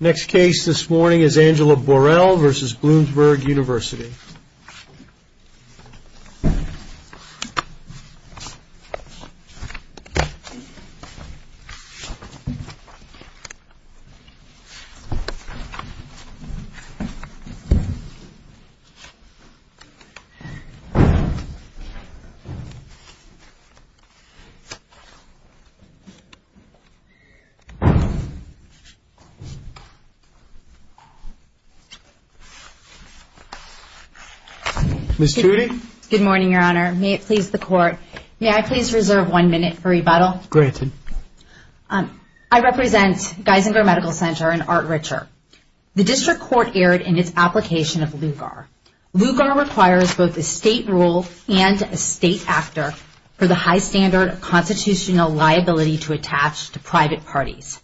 Next case this morning is Angela Borrell v. Bloomsburg University Ms. Tudy Good morning, your honor. May it please the court, may I please reserve one minute for rebuttal? Granted. I represent Geisinger Medical Center and Art Richer. The district court erred in its application of LUGAR. LUGAR requires both a state rule and a state actor for the high standard of constitutional liability to attach to private parties.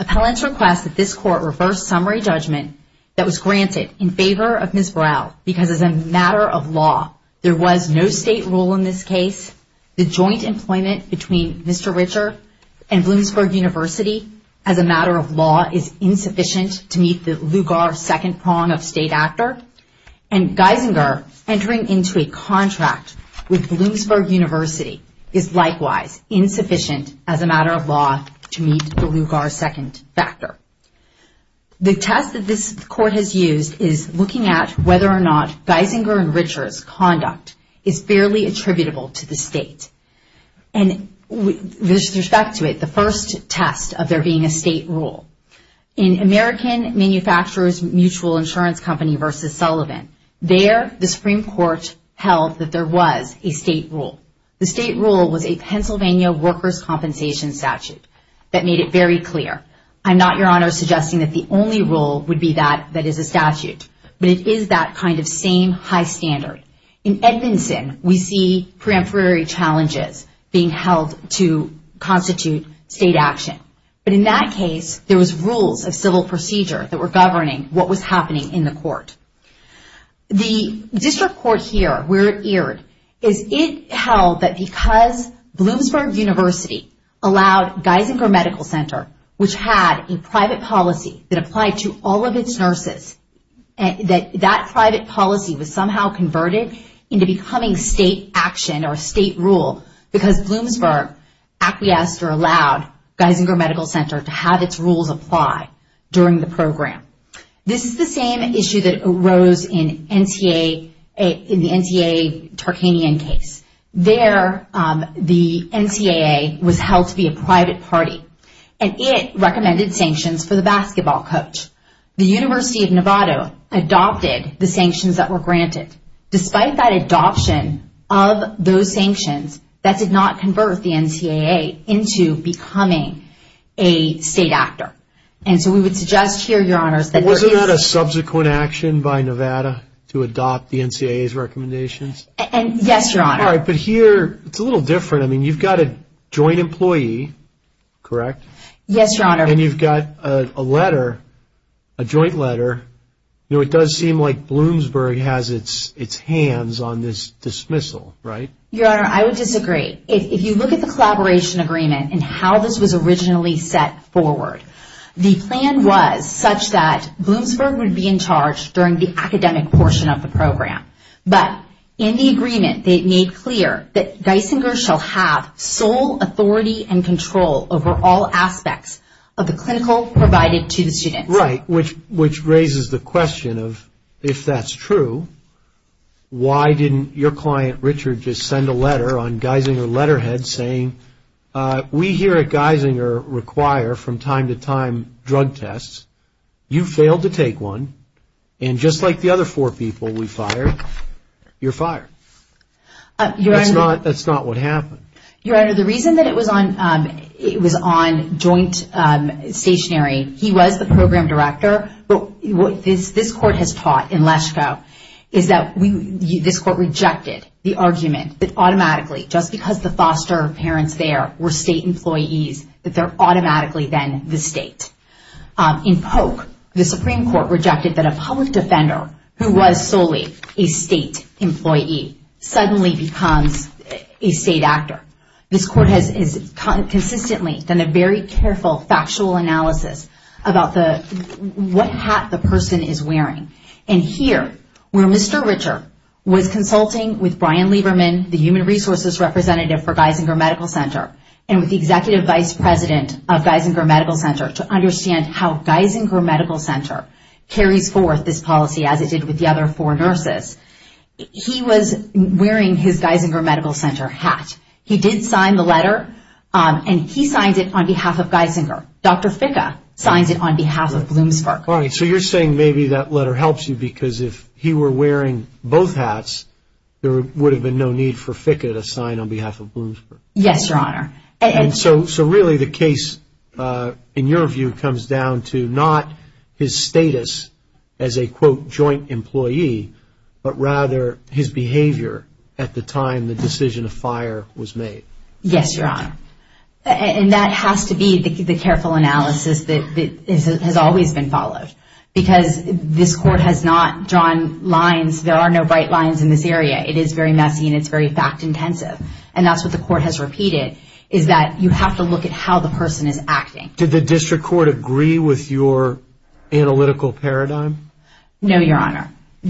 Appellants request that this court reverse summary judgment that was granted in favor of Ms. Borrell because as a matter of law there was no state rule in this case, the joint employment between Mr. Richer and Bloomsburg University as a matter of law is insufficient to meet the LUGAR second prong of state actor, and Geisinger entering into a contract with Bloomsburg University is likewise insufficient as a matter of law to meet the LUGAR second factor. The test that this court has used is looking at whether or not Geisinger and Richer's conduct is fairly attributable to the state. And with respect to it, the first test of there being a state rule. In American Manufacturers Mutual Insurance Company v. Sullivan, there the Supreme Court held that there was a state rule. The state rule was a Pennsylvania workers' compensation statute that made it very clear. I'm not, Your Honor, suggesting that the only rule would be that that is a statute, but it is that kind of same high standard. In Edmondson, we see preemptory challenges being held to constitute state action. But in that case, there was rules of civil procedure that were The district court here, where it erred, is it held that because Bloomsburg University allowed Geisinger Medical Center, which had a private policy that applied to all of its nurses, that that private policy was somehow converted into becoming state action or state rule because Bloomsburg acquiesced or allowed Geisinger Medical Center to have its rules apply during the program. This is the same issue that arose in the NCAA Tarkanian case. There, the NCAA was held to be a private party, and it recommended sanctions for the basketball coach. The University of Nevada adopted the sanctions that were granted. Despite that And so we would suggest here, Your Honor, that there is... Wasn't that a subsequent action by Nevada to adopt the NCAA's recommendations? Yes, Your Honor. All right, but here, it's a little different. I mean, you've got a joint employee, correct? Yes, Your Honor. And you've got a letter, a joint letter. You know, it does seem like Bloomsburg has its hands on this dismissal, right? Your Honor, I would disagree. If you look at the collaboration agreement and how this was originally set forward, the plan was such that Bloomsburg would be in charge during the academic portion of the program. But in the agreement, they made clear that Geisinger shall have sole authority and control over all aspects of the clinical provided to the students. Right, which raises the question of, if that's true, why didn't your client, Richard, just like Geisinger, require from time to time drug tests, you failed to take one, and just like the other four people we fired, you're fired. Your Honor... That's not what happened. Your Honor, the reason that it was on joint stationary, he was the program director, but what this court has taught in Lesko is that this court rejected the argument that automatically, just because the foster parents there were state employees, that they're automatically then the state. In Polk, the Supreme Court rejected that a public defender who was solely a state employee suddenly becomes a state actor. This court has consistently done a very careful factual analysis about what hat the person is wearing. Here, where Mr. Richard was consulting with Brian Lieberman, the human resources representative for Geisinger Medical Center, and with the executive vice president of Geisinger Medical Center to understand how Geisinger Medical Center carries forth this policy as it did with the other four nurses, he was wearing his Geisinger Medical Center hat. He did sign the letter, and he signed it on behalf of Geisinger. Dr. Ficca signed it on behalf of Bloomsburg. All right, so you're saying maybe that letter helps you because if he were wearing both hats, there would have been no need for Ficca to sign on behalf of Bloomsburg. Yes, Your Honor. And so really the case, in your view, comes down to not his status as a, quote, joint employee, but rather his behavior at the time the decision of fire was made. Yes, Your Honor. And that has to be the careful analysis that has always been followed, because this court has not drawn lines. There are no bright lines in this area. It is very messy, and it's very fact-intensive. And that's what the court has repeated, is that you have to look at how the person is acting. Did the district court agree with your analytical paradigm? No, Your Honor. So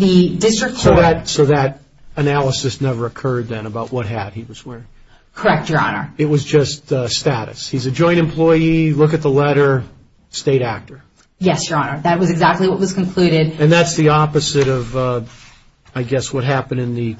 that analysis never occurred then about what hat he was wearing? Correct, Your Honor. It was just status. He's a joint employee. Look at the letter. State actor. Yes, Your Honor. That was exactly what was concluded. And that's the opposite of, I guess, what happened in the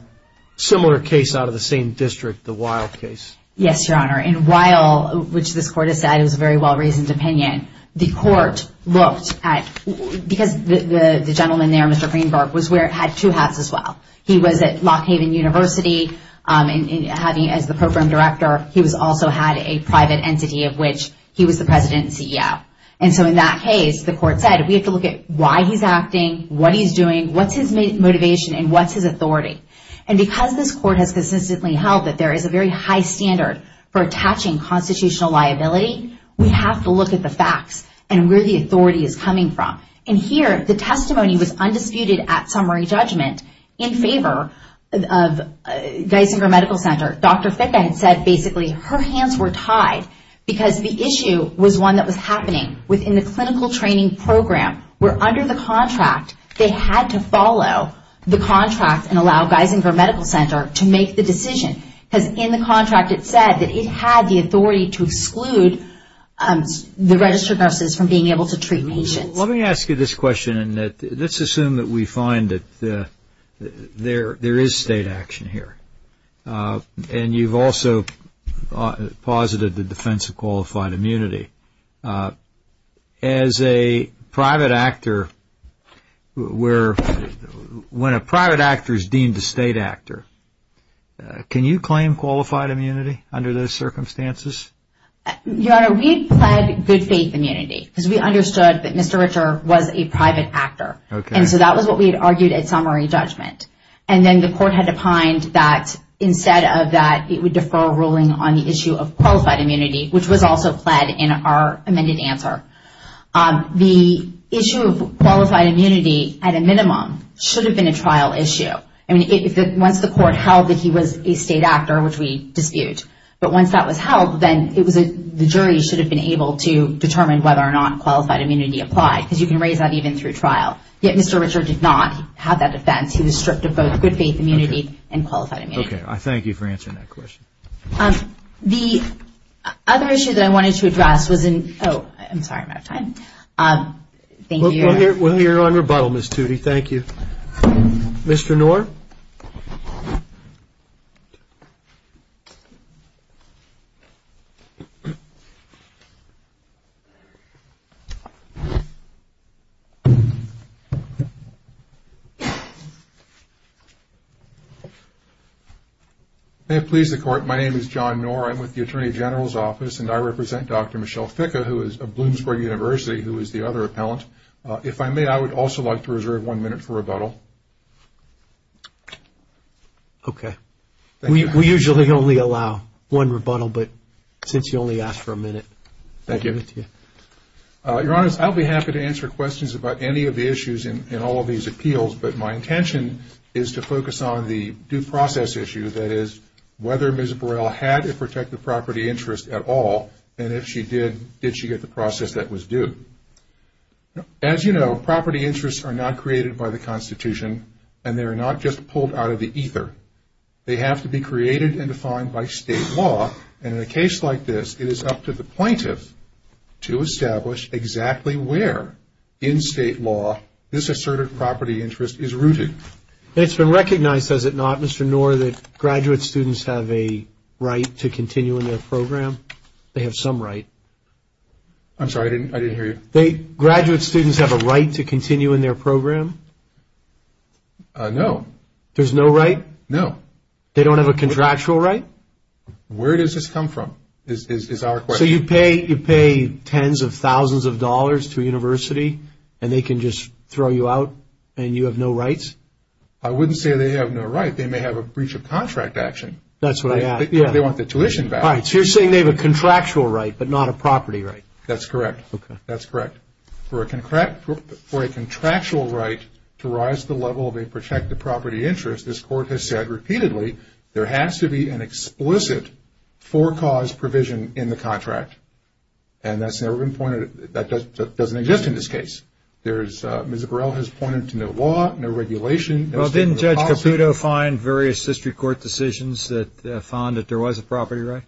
similar case out of the same district, the Weil case. Yes, Your Honor. And Weil, which this court has said is a very well-reasoned opinion, the court looked at – because the gentleman there, Mr. Greenberg, was wearing – had two hats as well. He was at Lock Haven University as the program director. He also had a private entity of which he was the president and CEO. And so in that case, the court said, we have to look at why he's acting, what he's doing, what's his motivation, and what's his authority. And because this court has consistently held that there is a very high standard for attaching constitutional liability, we have to look at the facts and where the authority is coming from. And here, the testimony was undisputed at summary judgment in favor of Geisinger Medical Center. Dr. Ficka had said, basically, her hands were tied because the issue was one that was happening within the clinical training program, where under the contract, they had to follow the contract and allow Geisinger Medical Center to make the decision. Because in the contract, it said that it had the authority to exclude the registered nurses from being able to treat patients. Let me ask you this question. Let's assume that we find that there is state action here. And you've also posited the defense of qualified immunity. As a private actor, when a private actor is deemed a state actor, can you claim qualified immunity under those circumstances? Your Honor, we had pled good faith immunity because we understood that Mr. Richard was a private actor. And so that was what we had argued at summary judgment. And then the court had opined that instead of that, it would defer a ruling on the issue of qualified immunity, which was also pled in our amended answer. The issue of qualified immunity, at a minimum, should have been a trial issue. Once the court held that he was a state actor, which we dispute. But once that was held, then the jury should have been able to determine whether or not qualified immunity applied. Because you can raise that even through trial. Yet Mr. Richard did not have that defense. He was stripped of both good faith immunity and qualified immunity. Okay, I thank you for answering that question. The other issue that I wanted to address was in – oh, I'm sorry, I'm out of time. Thank you. We're here on rebuttal, Ms. Tootie. Thank you. Mr. Knorr. May it please the Court, my name is John Knorr. I'm with the Attorney General's Office, and I represent Dr. Michelle Ficke of Bloomsburg University, who is the other appellant. If I may, I would also like to reserve one minute for rebuttal. Okay. We usually only allow one rebuttal, but since you only asked for a minute, I'll give it to you. Thank you. Your Honor, I'll be happy to answer questions about any of the issues in all of these appeals. But my intention is to focus on the due process issue, that is, whether Ms. Burrell had a protective property interest at all. And if she did, did she get the process that was due? As you know, property interests are not created by the Constitution, and they are not just pulled out of the ether. They have to be created and defined by state law. And in a case like this, it is up to the plaintiff to establish exactly where in state law this asserted property interest is rooted. It's been recognized, has it not, Mr. Knorr, that graduate students have a right to continue in their program? They have some right. I'm sorry. I didn't hear you. Graduate students have a right to continue in their program? No. There's no right? No. They don't have a contractual right? Where does this come from is our question. So you pay tens of thousands of dollars to a university, and they can just throw you out, and you have no rights? I wouldn't say they have no right. They may have a breach of contract action. That's what I asked. They want the tuition back. All right. So you're saying they have a contractual right but not a property right? That's correct. That's correct. For a contractual right to rise to the level of a protected property interest, this Court has said repeatedly there has to be an explicit for-cause provision in the contract, and that's never been pointed at. That doesn't exist in this case. Ms. Burrell has pointed to no law, no regulation. Well, didn't Judge Caputo find various district court decisions that found that there was a property right?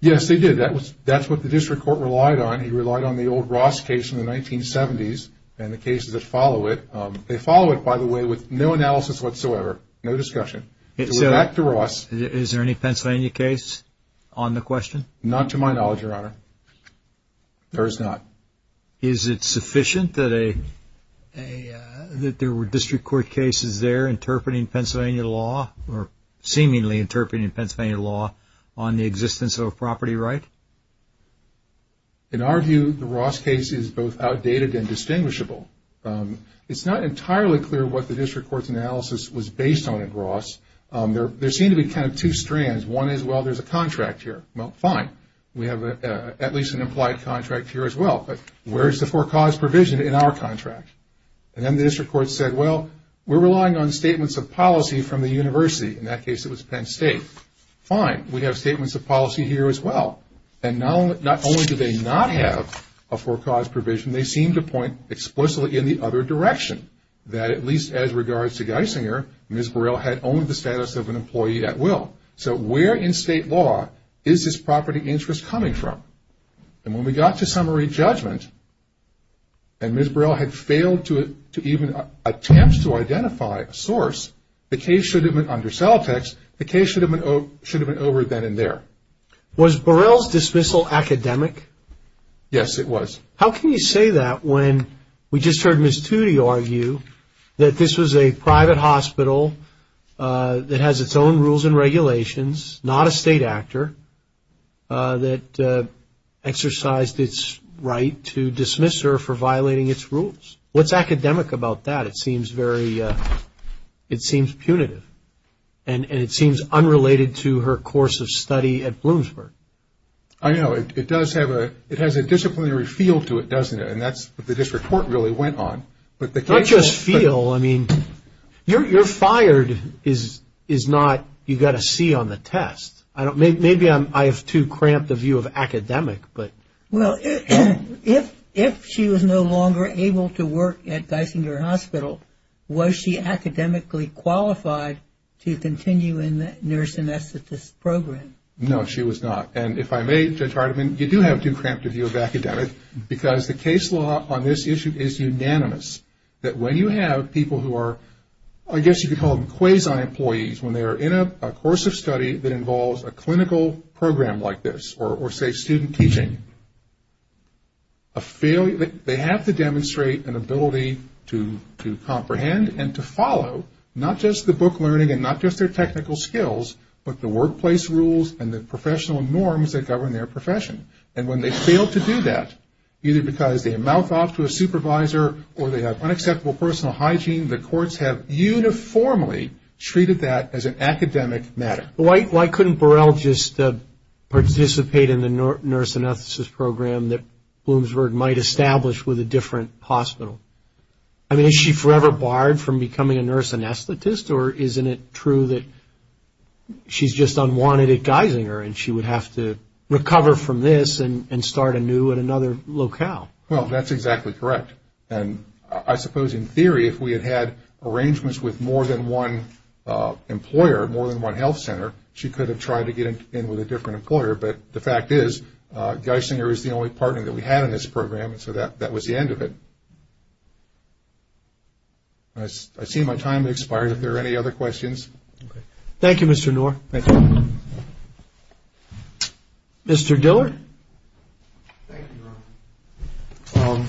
Yes, he did. That's what the district court relied on. He relied on the old Ross case in the 1970s and the cases that follow it. They follow it, by the way, with no analysis whatsoever, no discussion. So back to Ross. Is there any Pennsylvania case on the question? Not to my knowledge, Your Honor. There is not. Is it sufficient that there were district court cases there interpreting Pennsylvania law or seemingly interpreting Pennsylvania law on the existence of a property right? In our view, the Ross case is both outdated and distinguishable. It's not entirely clear what the district court's analysis was based on at Ross. There seem to be kind of two strands. One is, well, there's a contract here. Well, fine. We have at least an implied contract here as well. But where is the for cause provision in our contract? And then the district court said, well, we're relying on statements of policy from the university. In that case, it was Penn State. Fine. We have statements of policy here as well. And not only do they not have a for cause provision, they seem to point explicitly in the other direction that at least as regards to Geisinger, Ms. Burrell had owned the status of an employee at will. So where in state law is this property interest coming from? And when we got to summary judgment and Ms. Burrell had failed to even attempt to identify a source, the case should have been under cell text. The case should have been over then and there. Was Burrell's dismissal academic? Yes, it was. How can you say that when we just heard Ms. Toody argue that this was a private hospital that has its own rules and regulations, not a state actor, that exercised its right to dismiss her for violating its rules? What's academic about that? It seems punitive. And it seems unrelated to her course of study at Bloomsburg. I know. It has a disciplinary feel to it, doesn't it? And that's what the district court really went on. Not just feel. You're fired is not you got a C on the test. Maybe I have too cramped a view of academic. Well, if she was no longer able to work at Geisinger Hospital, was she academically qualified to continue in the nurse anesthetist program? No, she was not. And if I may, Judge Hardiman, you do have too cramped a view of academic because the case law on this issue is unanimous, that when you have people who are, I guess you could call them quasi-employees, when they are in a course of study that involves a clinical program like this, or say student teaching, they have to demonstrate an ability to comprehend and to follow not just the book learning and not just their technical skills, but the workplace rules and the professional norms that govern their profession. And when they fail to do that, either because they mouth off to a supervisor or they have unacceptable personal hygiene, the courts have uniformly treated that as an academic matter. Why couldn't Burrell just participate in the nurse anesthetist program that Bloomsburg might establish with a different hospital? I mean, is she forever barred from becoming a nurse anesthetist or isn't it true that she's just unwanted at Geisinger and she would have to recover from this and start anew at another locale? Well, that's exactly correct. And I suppose in theory, if we had had arrangements with more than one employer, more than one health center, she could have tried to get in with a different employer. But the fact is, Geisinger is the only partner that we had in this program, and so that was the end of it. I see my time has expired. Are there any other questions? Thank you, Mr. Knorr. Thank you. Mr. Diller. Thank you, Ron.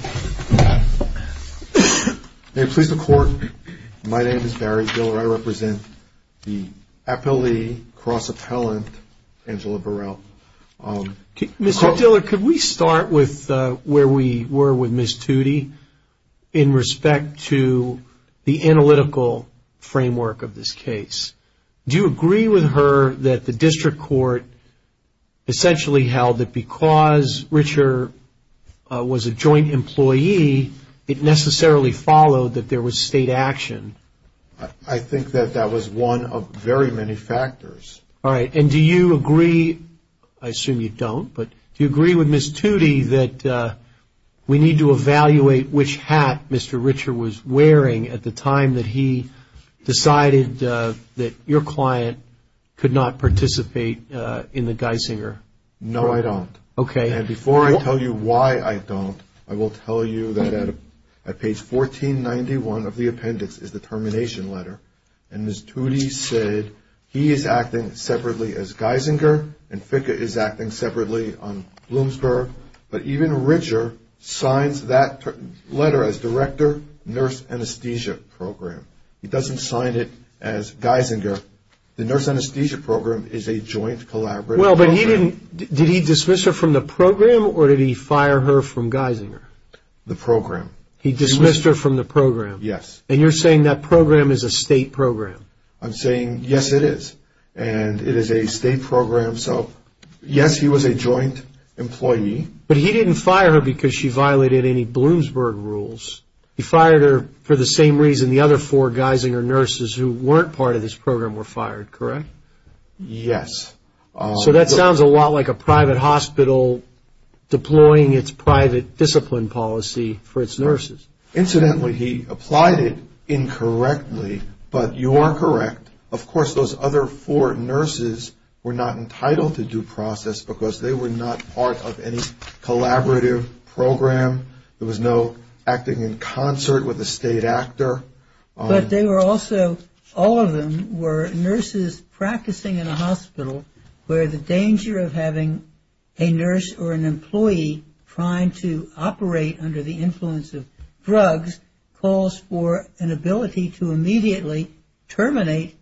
May it please the Court, my name is Barry Diller. I represent the appellee cross-appellant Angela Burrell. Mr. Diller, could we start with where we were with Ms. Toody in respect to the analytical framework of this case? Do you agree with her that the district court essentially held that because Richard was a joint employee, it necessarily followed that there was state action? I think that that was one of very many factors. All right, and do you agree, I assume you don't, but do you agree with Ms. Toody that we need to evaluate which hat Mr. Richard was wearing at the time that he decided that your client could not participate in the Geisinger? No, I don't. Okay. And before I tell you why I don't, I will tell you that at page 1491 of the appendix is the termination letter, and Ms. Toody said he is acting separately as Geisinger and Ficka is acting separately on Bloomsburg, but even Richard signs that letter as director, nurse anesthesia program. He doesn't sign it as Geisinger. The nurse anesthesia program is a joint collaborative program. Well, but he didn't, did he dismiss her from the program or did he fire her from Geisinger? The program. He dismissed her from the program? Yes. And you're saying that program is a state program? I'm saying, yes, it is, and it is a state program. So, yes, he was a joint employee. But he didn't fire her because she violated any Bloomsburg rules. He fired her for the same reason the other four Geisinger nurses who weren't part of this program were fired, correct? Yes. So that sounds a lot like a private hospital deploying its private discipline policy for its nurses. Incidentally, he applied it incorrectly, but you are correct. Of course, those other four nurses were not entitled to due process because they were not part of any collaborative program. There was no acting in concert with a state actor. But they were also, all of them were nurses practicing in a hospital where the danger of having a nurse or an employee trying to operate under the influence of drugs calls for an ability to immediately terminate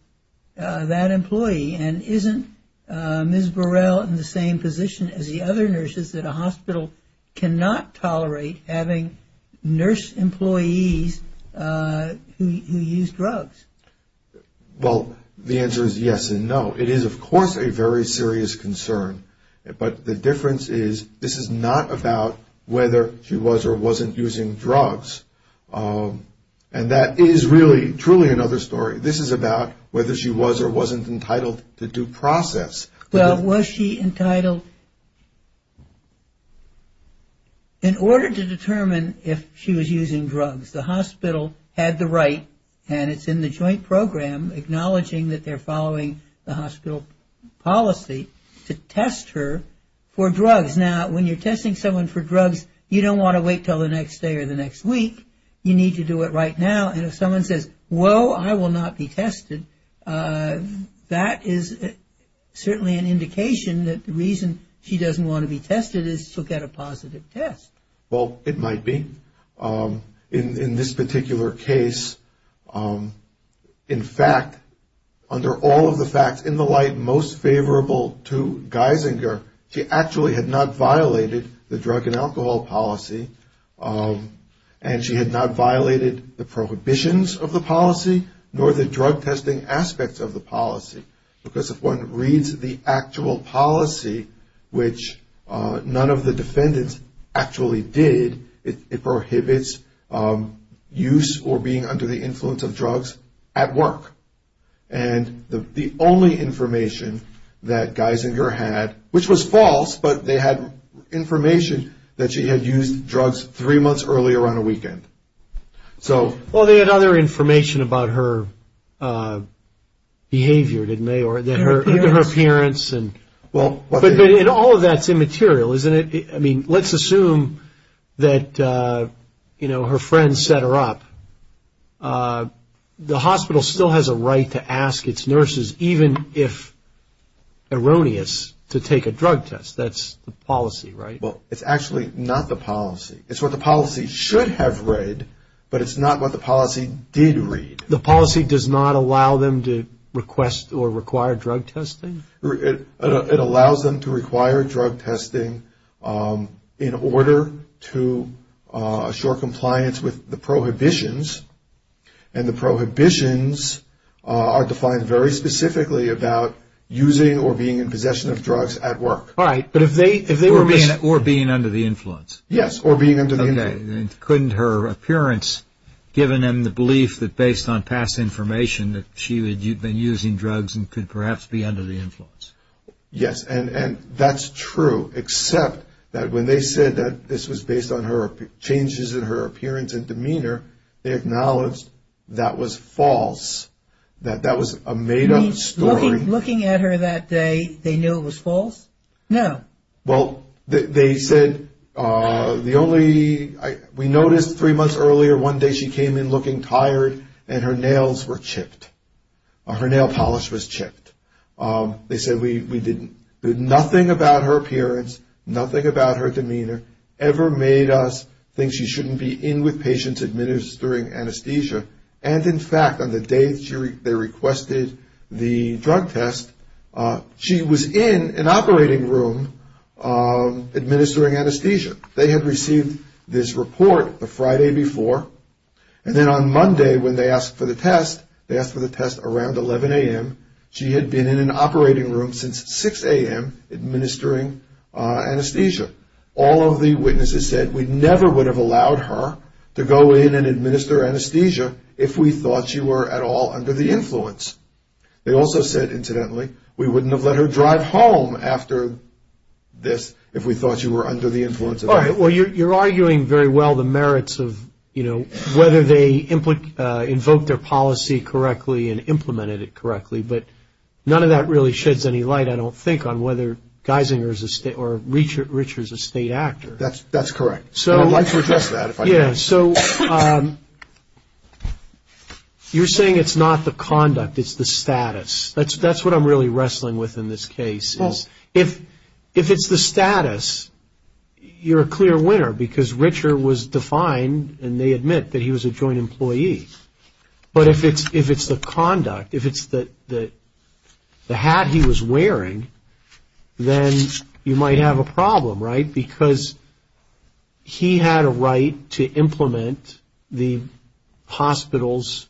that employee. And isn't Ms. Burrell in the same position as the other nurses that a hospital cannot tolerate having nurse employees who use drugs? Well, the answer is yes and no. It is, of course, a very serious concern. But the difference is this is not about whether she was or wasn't using drugs. And that is really truly another story. This is about whether she was or wasn't entitled to due process. Well, was she entitled? In order to determine if she was using drugs, the hospital had the right, and it's in the joint program, acknowledging that they're following the hospital policy to test her for drugs. Now, when you're testing someone for drugs, you don't want to wait until the next day or the next week. You need to do it right now. And if someone says, whoa, I will not be tested, that is certainly an indication that the reason she doesn't want to be tested is to get a positive test. Well, it might be. In this particular case, in fact, under all of the facts in the light most favorable to Geisinger, she actually had not violated the drug and alcohol policy, and she had not violated the prohibitions of the policy nor the drug testing aspects of the policy. Because if one reads the actual policy, which none of the defendants actually did, it prohibits use or being under the influence of drugs at work. And the only information that Geisinger had, which was false, but they had information that she had used drugs three months earlier on a weekend. Well, they had other information about her behavior, didn't they, or even her appearance. And all of that's immaterial, isn't it? I mean, let's assume that, you know, her friends set her up. The hospital still has a right to ask its nurses, even if erroneous, to take a drug test. That's the policy, right? Well, it's actually not the policy. It's what the policy should have read, but it's not what the policy did read. The policy does not allow them to request or require drug testing? It allows them to require drug testing in order to assure compliance with the prohibitions, and the prohibitions are defined very specifically about using or being in possession of drugs at work. All right, but if they were being under the influence. Yes, or being under the influence. Okay, and couldn't her appearance give them the belief that based on past information that she had been using drugs and could perhaps be under the influence? Yes, and that's true, except that when they said that this was based on changes in her appearance and demeanor, they acknowledged that was false, that that was a made-up story. You mean, looking at her that day, they knew it was false? No. Why? Well, they said the only – we noticed three months earlier one day she came in looking tired and her nails were chipped. Her nail polish was chipped. They said we did nothing about her appearance, nothing about her demeanor, ever made us think she shouldn't be in with patients administering anesthesia, and, in fact, on the day they requested the drug test, she was in an operating room administering anesthesia. They had received this report the Friday before, and then on Monday when they asked for the test, they asked for the test around 11 a.m. She had been in an operating room since 6 a.m. administering anesthesia. All of the witnesses said we never would have allowed her to go in and administer anesthesia if we thought she were at all under the influence. They also said, incidentally, we wouldn't have let her drive home after this if we thought she were under the influence. All right. Well, you're arguing very well the merits of, you know, whether they invoked their policy correctly and implemented it correctly, but none of that really sheds any light, I don't think, on whether Geisinger is a state or Richard is a state actor. That's correct. I'd like to address that if I can. Yeah, so you're saying it's not the conduct, it's the status. That's what I'm really wrestling with in this case. If it's the status, you're a clear winner because Richard was defined, and they admit that he was a joint employee. But if it's the conduct, if it's the hat he was wearing, then you might have a problem, right, because he had a right to implement the hospital's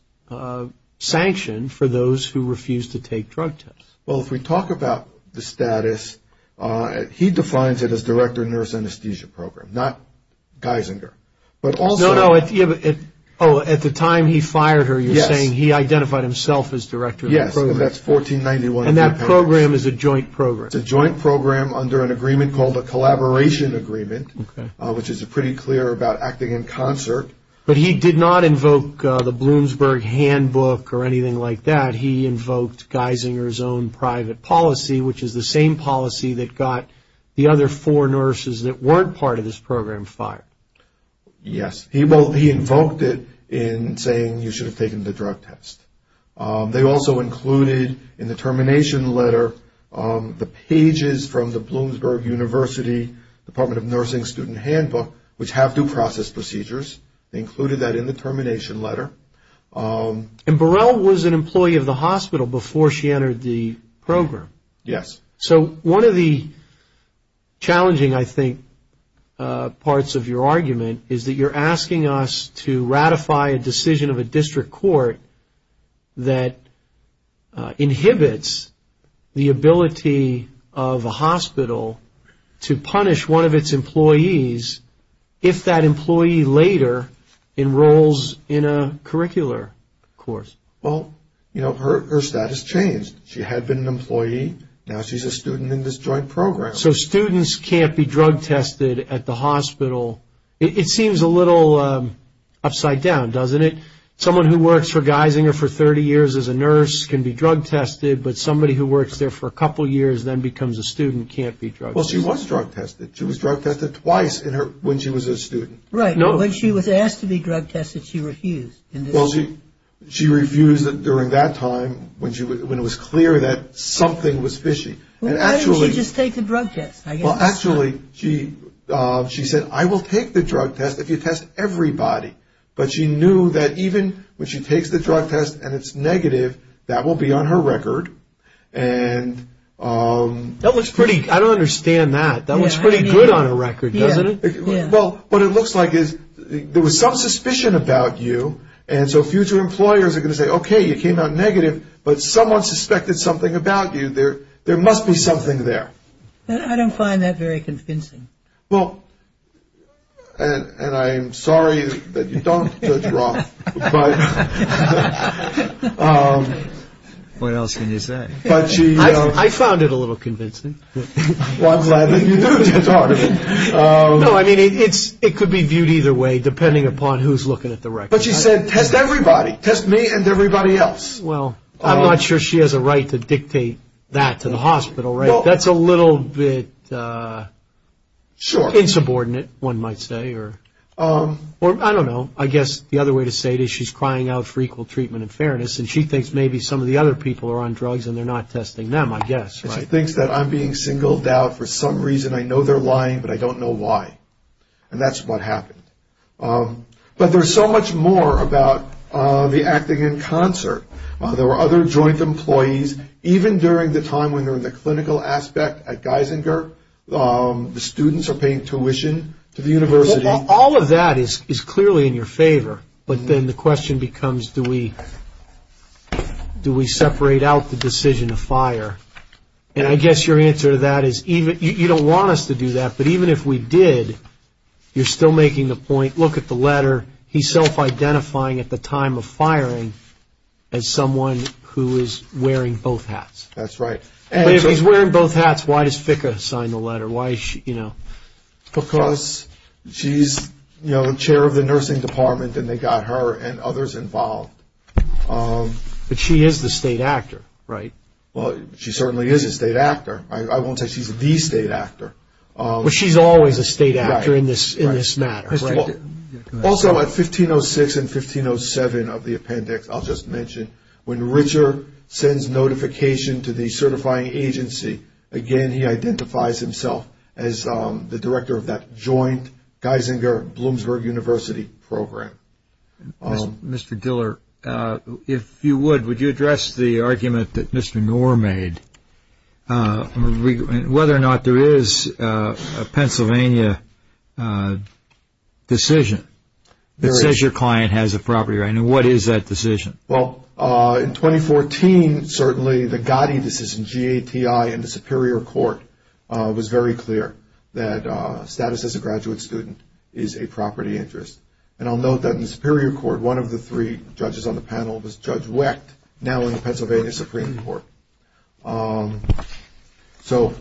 sanction for those who refused to take drug tests. Well, if we talk about the status, he defines it as director of the nurse anesthesia program, not Geisinger. No, no, at the time he fired her, you're saying he identified himself as director of the program. Yes, and that's 1491. And that program is a joint program. It's a joint program under an agreement called a collaboration agreement, which is pretty clear about acting in concert. But he did not invoke the Bloomsburg handbook or anything like that. He invoked Geisinger's own private policy, which is the same policy that got the other four nurses that weren't part of this program fired. Yes, he invoked it in saying you should have taken the drug test. They also included in the termination letter the pages from the Bloomsburg University Department of Nursing student handbook, which have due process procedures. They included that in the termination letter. And Burrell was an employee of the hospital before she entered the program. Yes. So one of the challenging, I think, parts of your argument is that you're asking us to ratify a decision of a district court that inhibits the ability of a hospital to punish one of its employees if that employee later enrolls in a curricular course. Well, you know, her status changed. She had been an employee. Now she's a student in this joint program. So students can't be drug tested at the hospital. It seems a little upside down, doesn't it? Someone who works for Geisinger for 30 years as a nurse can be drug tested, but somebody who works there for a couple years then becomes a student can't be drug tested. Well, she was drug tested. She was drug tested twice when she was a student. Right. When she was asked to be drug tested, she refused. Well, she refused during that time when it was clear that something was fishy. Why didn't she just take the drug test? Well, actually, she said, I will take the drug test if you test everybody. But she knew that even when she takes the drug test and it's negative, that will be on her record. That looks pretty – I don't understand that. That looks pretty good on a record, doesn't it? Well, what it looks like is there was some suspicion about you, and so future employers are going to say, okay, you came out negative, but someone suspected something about you. There must be something there. I don't find that very convincing. Well, and I'm sorry that you don't, Judge Roth. What else can you say? I found it a little convincing. Well, I'm glad that you do, Judge Hartigan. No, I mean, it could be viewed either way depending upon who's looking at the record. But she said, test everybody, test me and everybody else. Well, I'm not sure she has a right to dictate that to the hospital, right? That's a little bit insubordinate, one might say, or I don't know. I guess the other way to say it is she's crying out for equal treatment and fairness, and she thinks maybe some of the other people are on drugs and they're not testing them, I guess. She thinks that I'm being singled out for some reason. I know they're lying, but I don't know why. And that's what happened. But there's so much more about the acting in concert. There were other joint employees. Even during the time when they were in the clinical aspect at Geisinger, the students are paying tuition to the university. All of that is clearly in your favor, but then the question becomes, do we separate out the decision to fire? And I guess your answer to that is you don't want us to do that, but even if we did, you're still making the point, look at the letter, he's self-identifying at the time of firing as someone who is wearing both hats. That's right. If he's wearing both hats, why does Ficka sign the letter? Because she's chair of the nursing department and they got her and others involved. But she is the state actor, right? Well, she certainly is a state actor. I won't say she's the state actor. But she's always a state actor in this matter, right? Also, at 1506 and 1507 of the appendix, I'll just mention, when Richard sends notification to the certifying agency, again, he identifies himself as the director of that joint Geisinger-Bloomsburg University program. Mr. Diller, if you would, would you address the argument that Mr. Knorr made, whether or not there is a Pennsylvania decision that says your client has a property right? And what is that decision? Well, in 2014, certainly the Gotti decision, G-A-T-I, in the Superior Court, was very clear that status as a graduate student is a property interest. And I'll note that in the Superior Court, one of the three judges on the panel was Judge Wecht, now in the Pennsylvania Supreme Court. So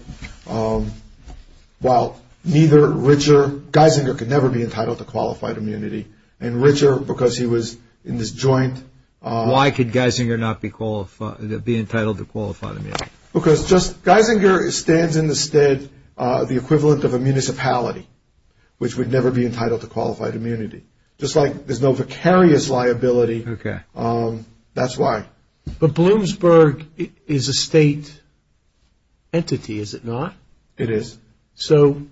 while neither Richard Geisinger could never be entitled to qualified immunity, and Richard, because he was in this joint- Why could Geisinger not be entitled to qualified immunity? Because Geisinger stands in the stead of the equivalent of a municipality, which would never be entitled to qualified immunity. Just like there's no vicarious liability, that's why. But Bloomsburg is a state entity, is it not? It is. So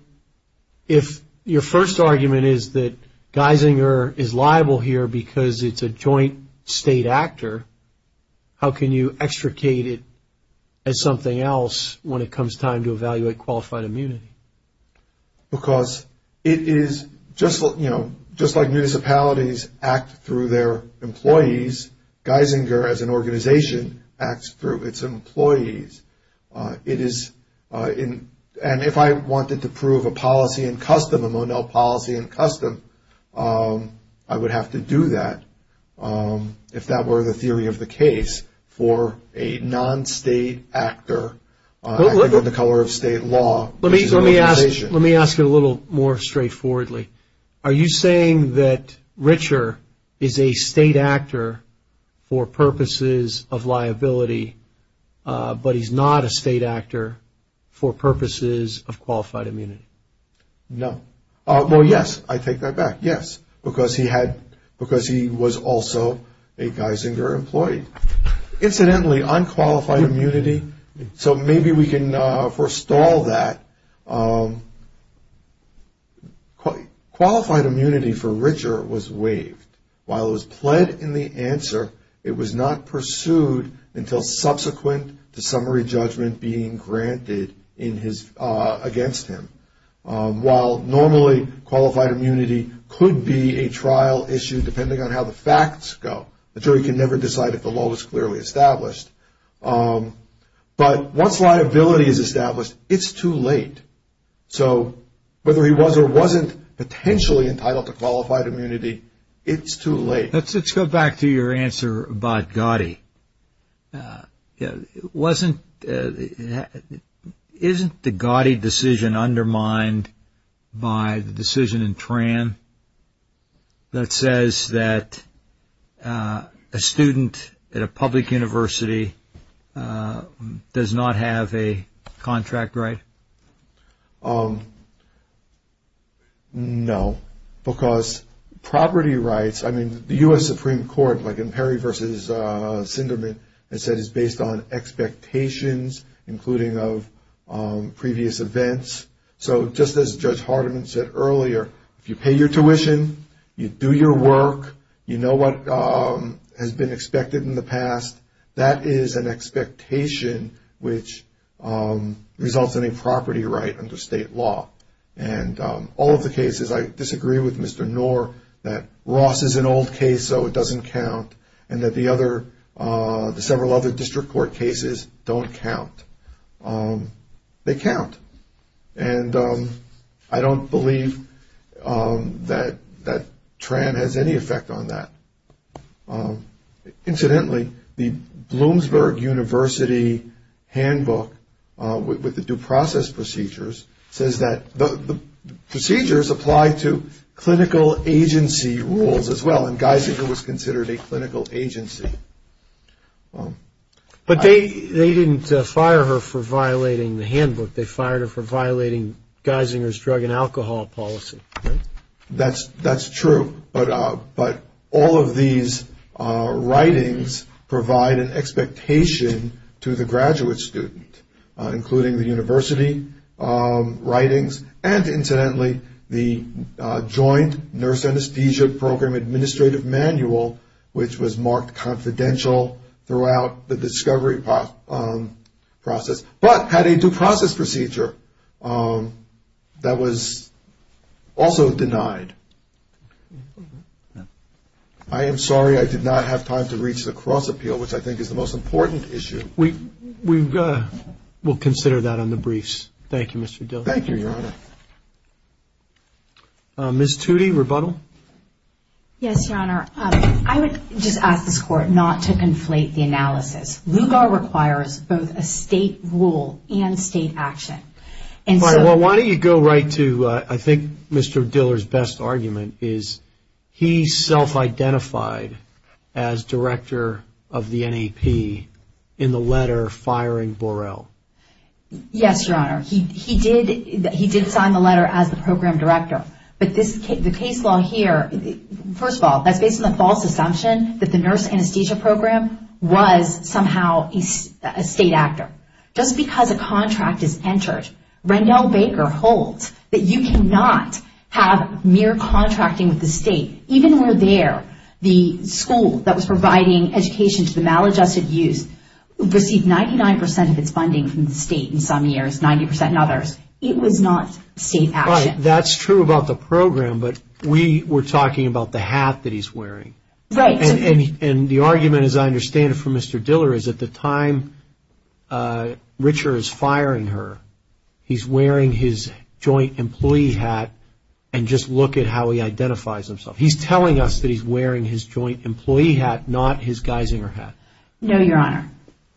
if your first argument is that Geisinger is liable here because it's a joint state actor, how can you extricate it as something else when it comes time to evaluate qualified immunity? Because it is just like municipalities act through their employees, Geisinger, as an organization, acts through its employees. It is, and if I wanted to prove a policy in custom, a Monell policy in custom, I would have to do that, if that were the theory of the case, for a non-state actor, acting under the color of state law, which is an organization. Let me ask you a little more straightforwardly. Are you saying that Richer is a state actor for purposes of liability, but he's not a state actor for purposes of qualified immunity? No. Well, yes, I take that back, yes, because he was also a Geisinger employee. Incidentally, unqualified immunity, so maybe we can forestall that. Qualified immunity for Richer was waived. While it was pled in the answer, it was not pursued until subsequent to summary judgment being granted against him. While normally qualified immunity could be a trial issue, depending on how the facts go. The jury can never decide if the law was clearly established. But once liability is established, it's too late. So whether he was or wasn't potentially entitled to qualified immunity, it's too late. Let's go back to your answer about Gotti. Isn't the Gotti decision undermined by the decision in Tran that says that a student at a public university does not have a contract right? No, because property rights, I mean, the U.S. Supreme Court, like in Perry v. Sinderman, has said it's based on expectations, including of previous events. So just as Judge Hardiman said earlier, if you pay your tuition, you do your work, you know what has been expected in the past, that is an expectation which results in a property right under state law. And all of the cases, I disagree with Mr. Knorr, that Ross is an old case, so it doesn't count, and that the several other district court cases don't count. They count. And I don't believe that Tran has any effect on that. Incidentally, the Bloomsburg University handbook with the due process procedures says that the procedures apply to clinical agency rules as well, and Geisinger was considered a clinical agency. But they didn't fire her for violating the handbook. They fired her for violating Geisinger's drug and alcohol policy. That's true. But all of these writings provide an expectation to the graduate student, including the university writings, and incidentally the joint nurse anesthesia program administrative manual, which was marked confidential throughout the discovery process, but had a due process procedure that was also denied. I am sorry I did not have time to reach the cross appeal, which I think is the most important issue. We'll consider that on the briefs. Thank you, Mr. Dill. Thank you, Your Honor. Ms. Toody, rebuttal? Yes, Your Honor. I would just ask this Court not to conflate the analysis. LUGAR requires both a state rule and state action. Why don't you go right to, I think, Mr. Diller's best argument, is he self-identified as director of the NAP in the letter firing Borrell. Yes, Your Honor. He did sign the letter as the program director, but the case law here, first of all, that's based on the false assumption that the nurse anesthesia program was somehow a state actor. Just because a contract is entered, Rendell Baker holds that you cannot have mere contracting with the state. Even where there, the school that was providing education to the maladjusted youth received 99% of its funding from the state in some years, 90% in others. It was not state action. Right, that's true about the program, but we were talking about the hat that he's wearing. Right. And the argument, as I understand it from Mr. Diller, is at the time Richer is firing her, he's wearing his joint employee hat and just look at how he identifies himself. He's telling us that he's wearing his joint employee hat, not his Geisinger hat. No, Your Honor.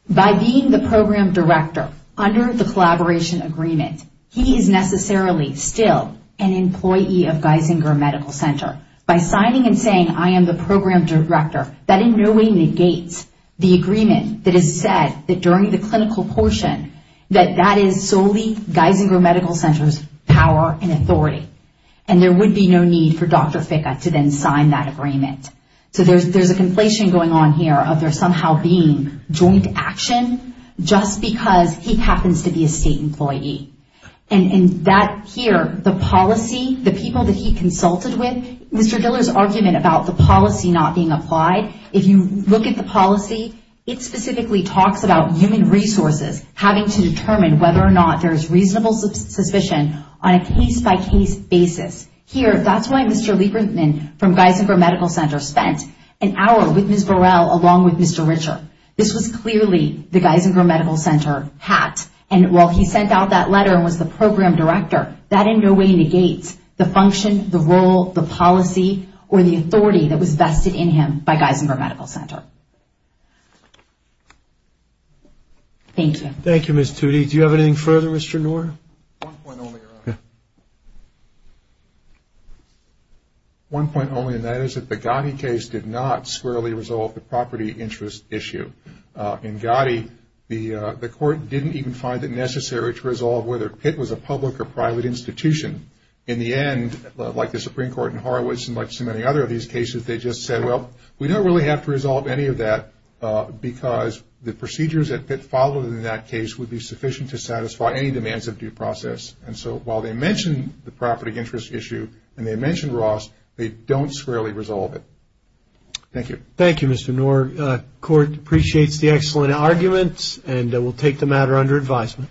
By being the program director under the collaboration agreement, he is necessarily still an employee of Geisinger Medical Center. By signing and saying I am the program director, that in no way negates the agreement that is said that during the clinical portion that that is solely Geisinger Medical Center's power and authority. And there would be no need for Dr. Ficca to then sign that agreement. So there's a conflation going on here of there somehow being joint action just because he happens to be a state employee. And that here, the policy, the people that he consulted with, Mr. Diller's argument about the policy not being applied, if you look at the policy, it specifically talks about human resources having to determine whether or not there's reasonable suspicion on a case-by-case basis. Here, that's why Mr. Lieberman from Geisinger Medical Center spent an hour with Ms. Burrell along with Mr. Richer. This was clearly the Geisinger Medical Center hat. And while he sent out that letter and was the program director, that in no way negates the function, the role, the policy, or the authority that was vested in him by Geisinger Medical Center. Thank you. Thank you, Ms. Toody. Do you have anything further, Mr. Noor? One point only, and that is that the Gotti case did not squarely resolve the property interest issue. In Gotti, the court didn't even find it necessary to resolve whether Pitt was a public or private institution. In the end, like the Supreme Court in Horowitz and like so many other of these cases, they just said, well, we don't really have to resolve any of that because the procedures that Pitt followed in that case would be sufficient to satisfy any demands of due process. And so while they mentioned the property interest issue and they mentioned Ross, they don't squarely resolve it. Thank you. Thank you, Mr. Noor. The court appreciates the excellent arguments and will take the matter under advisement.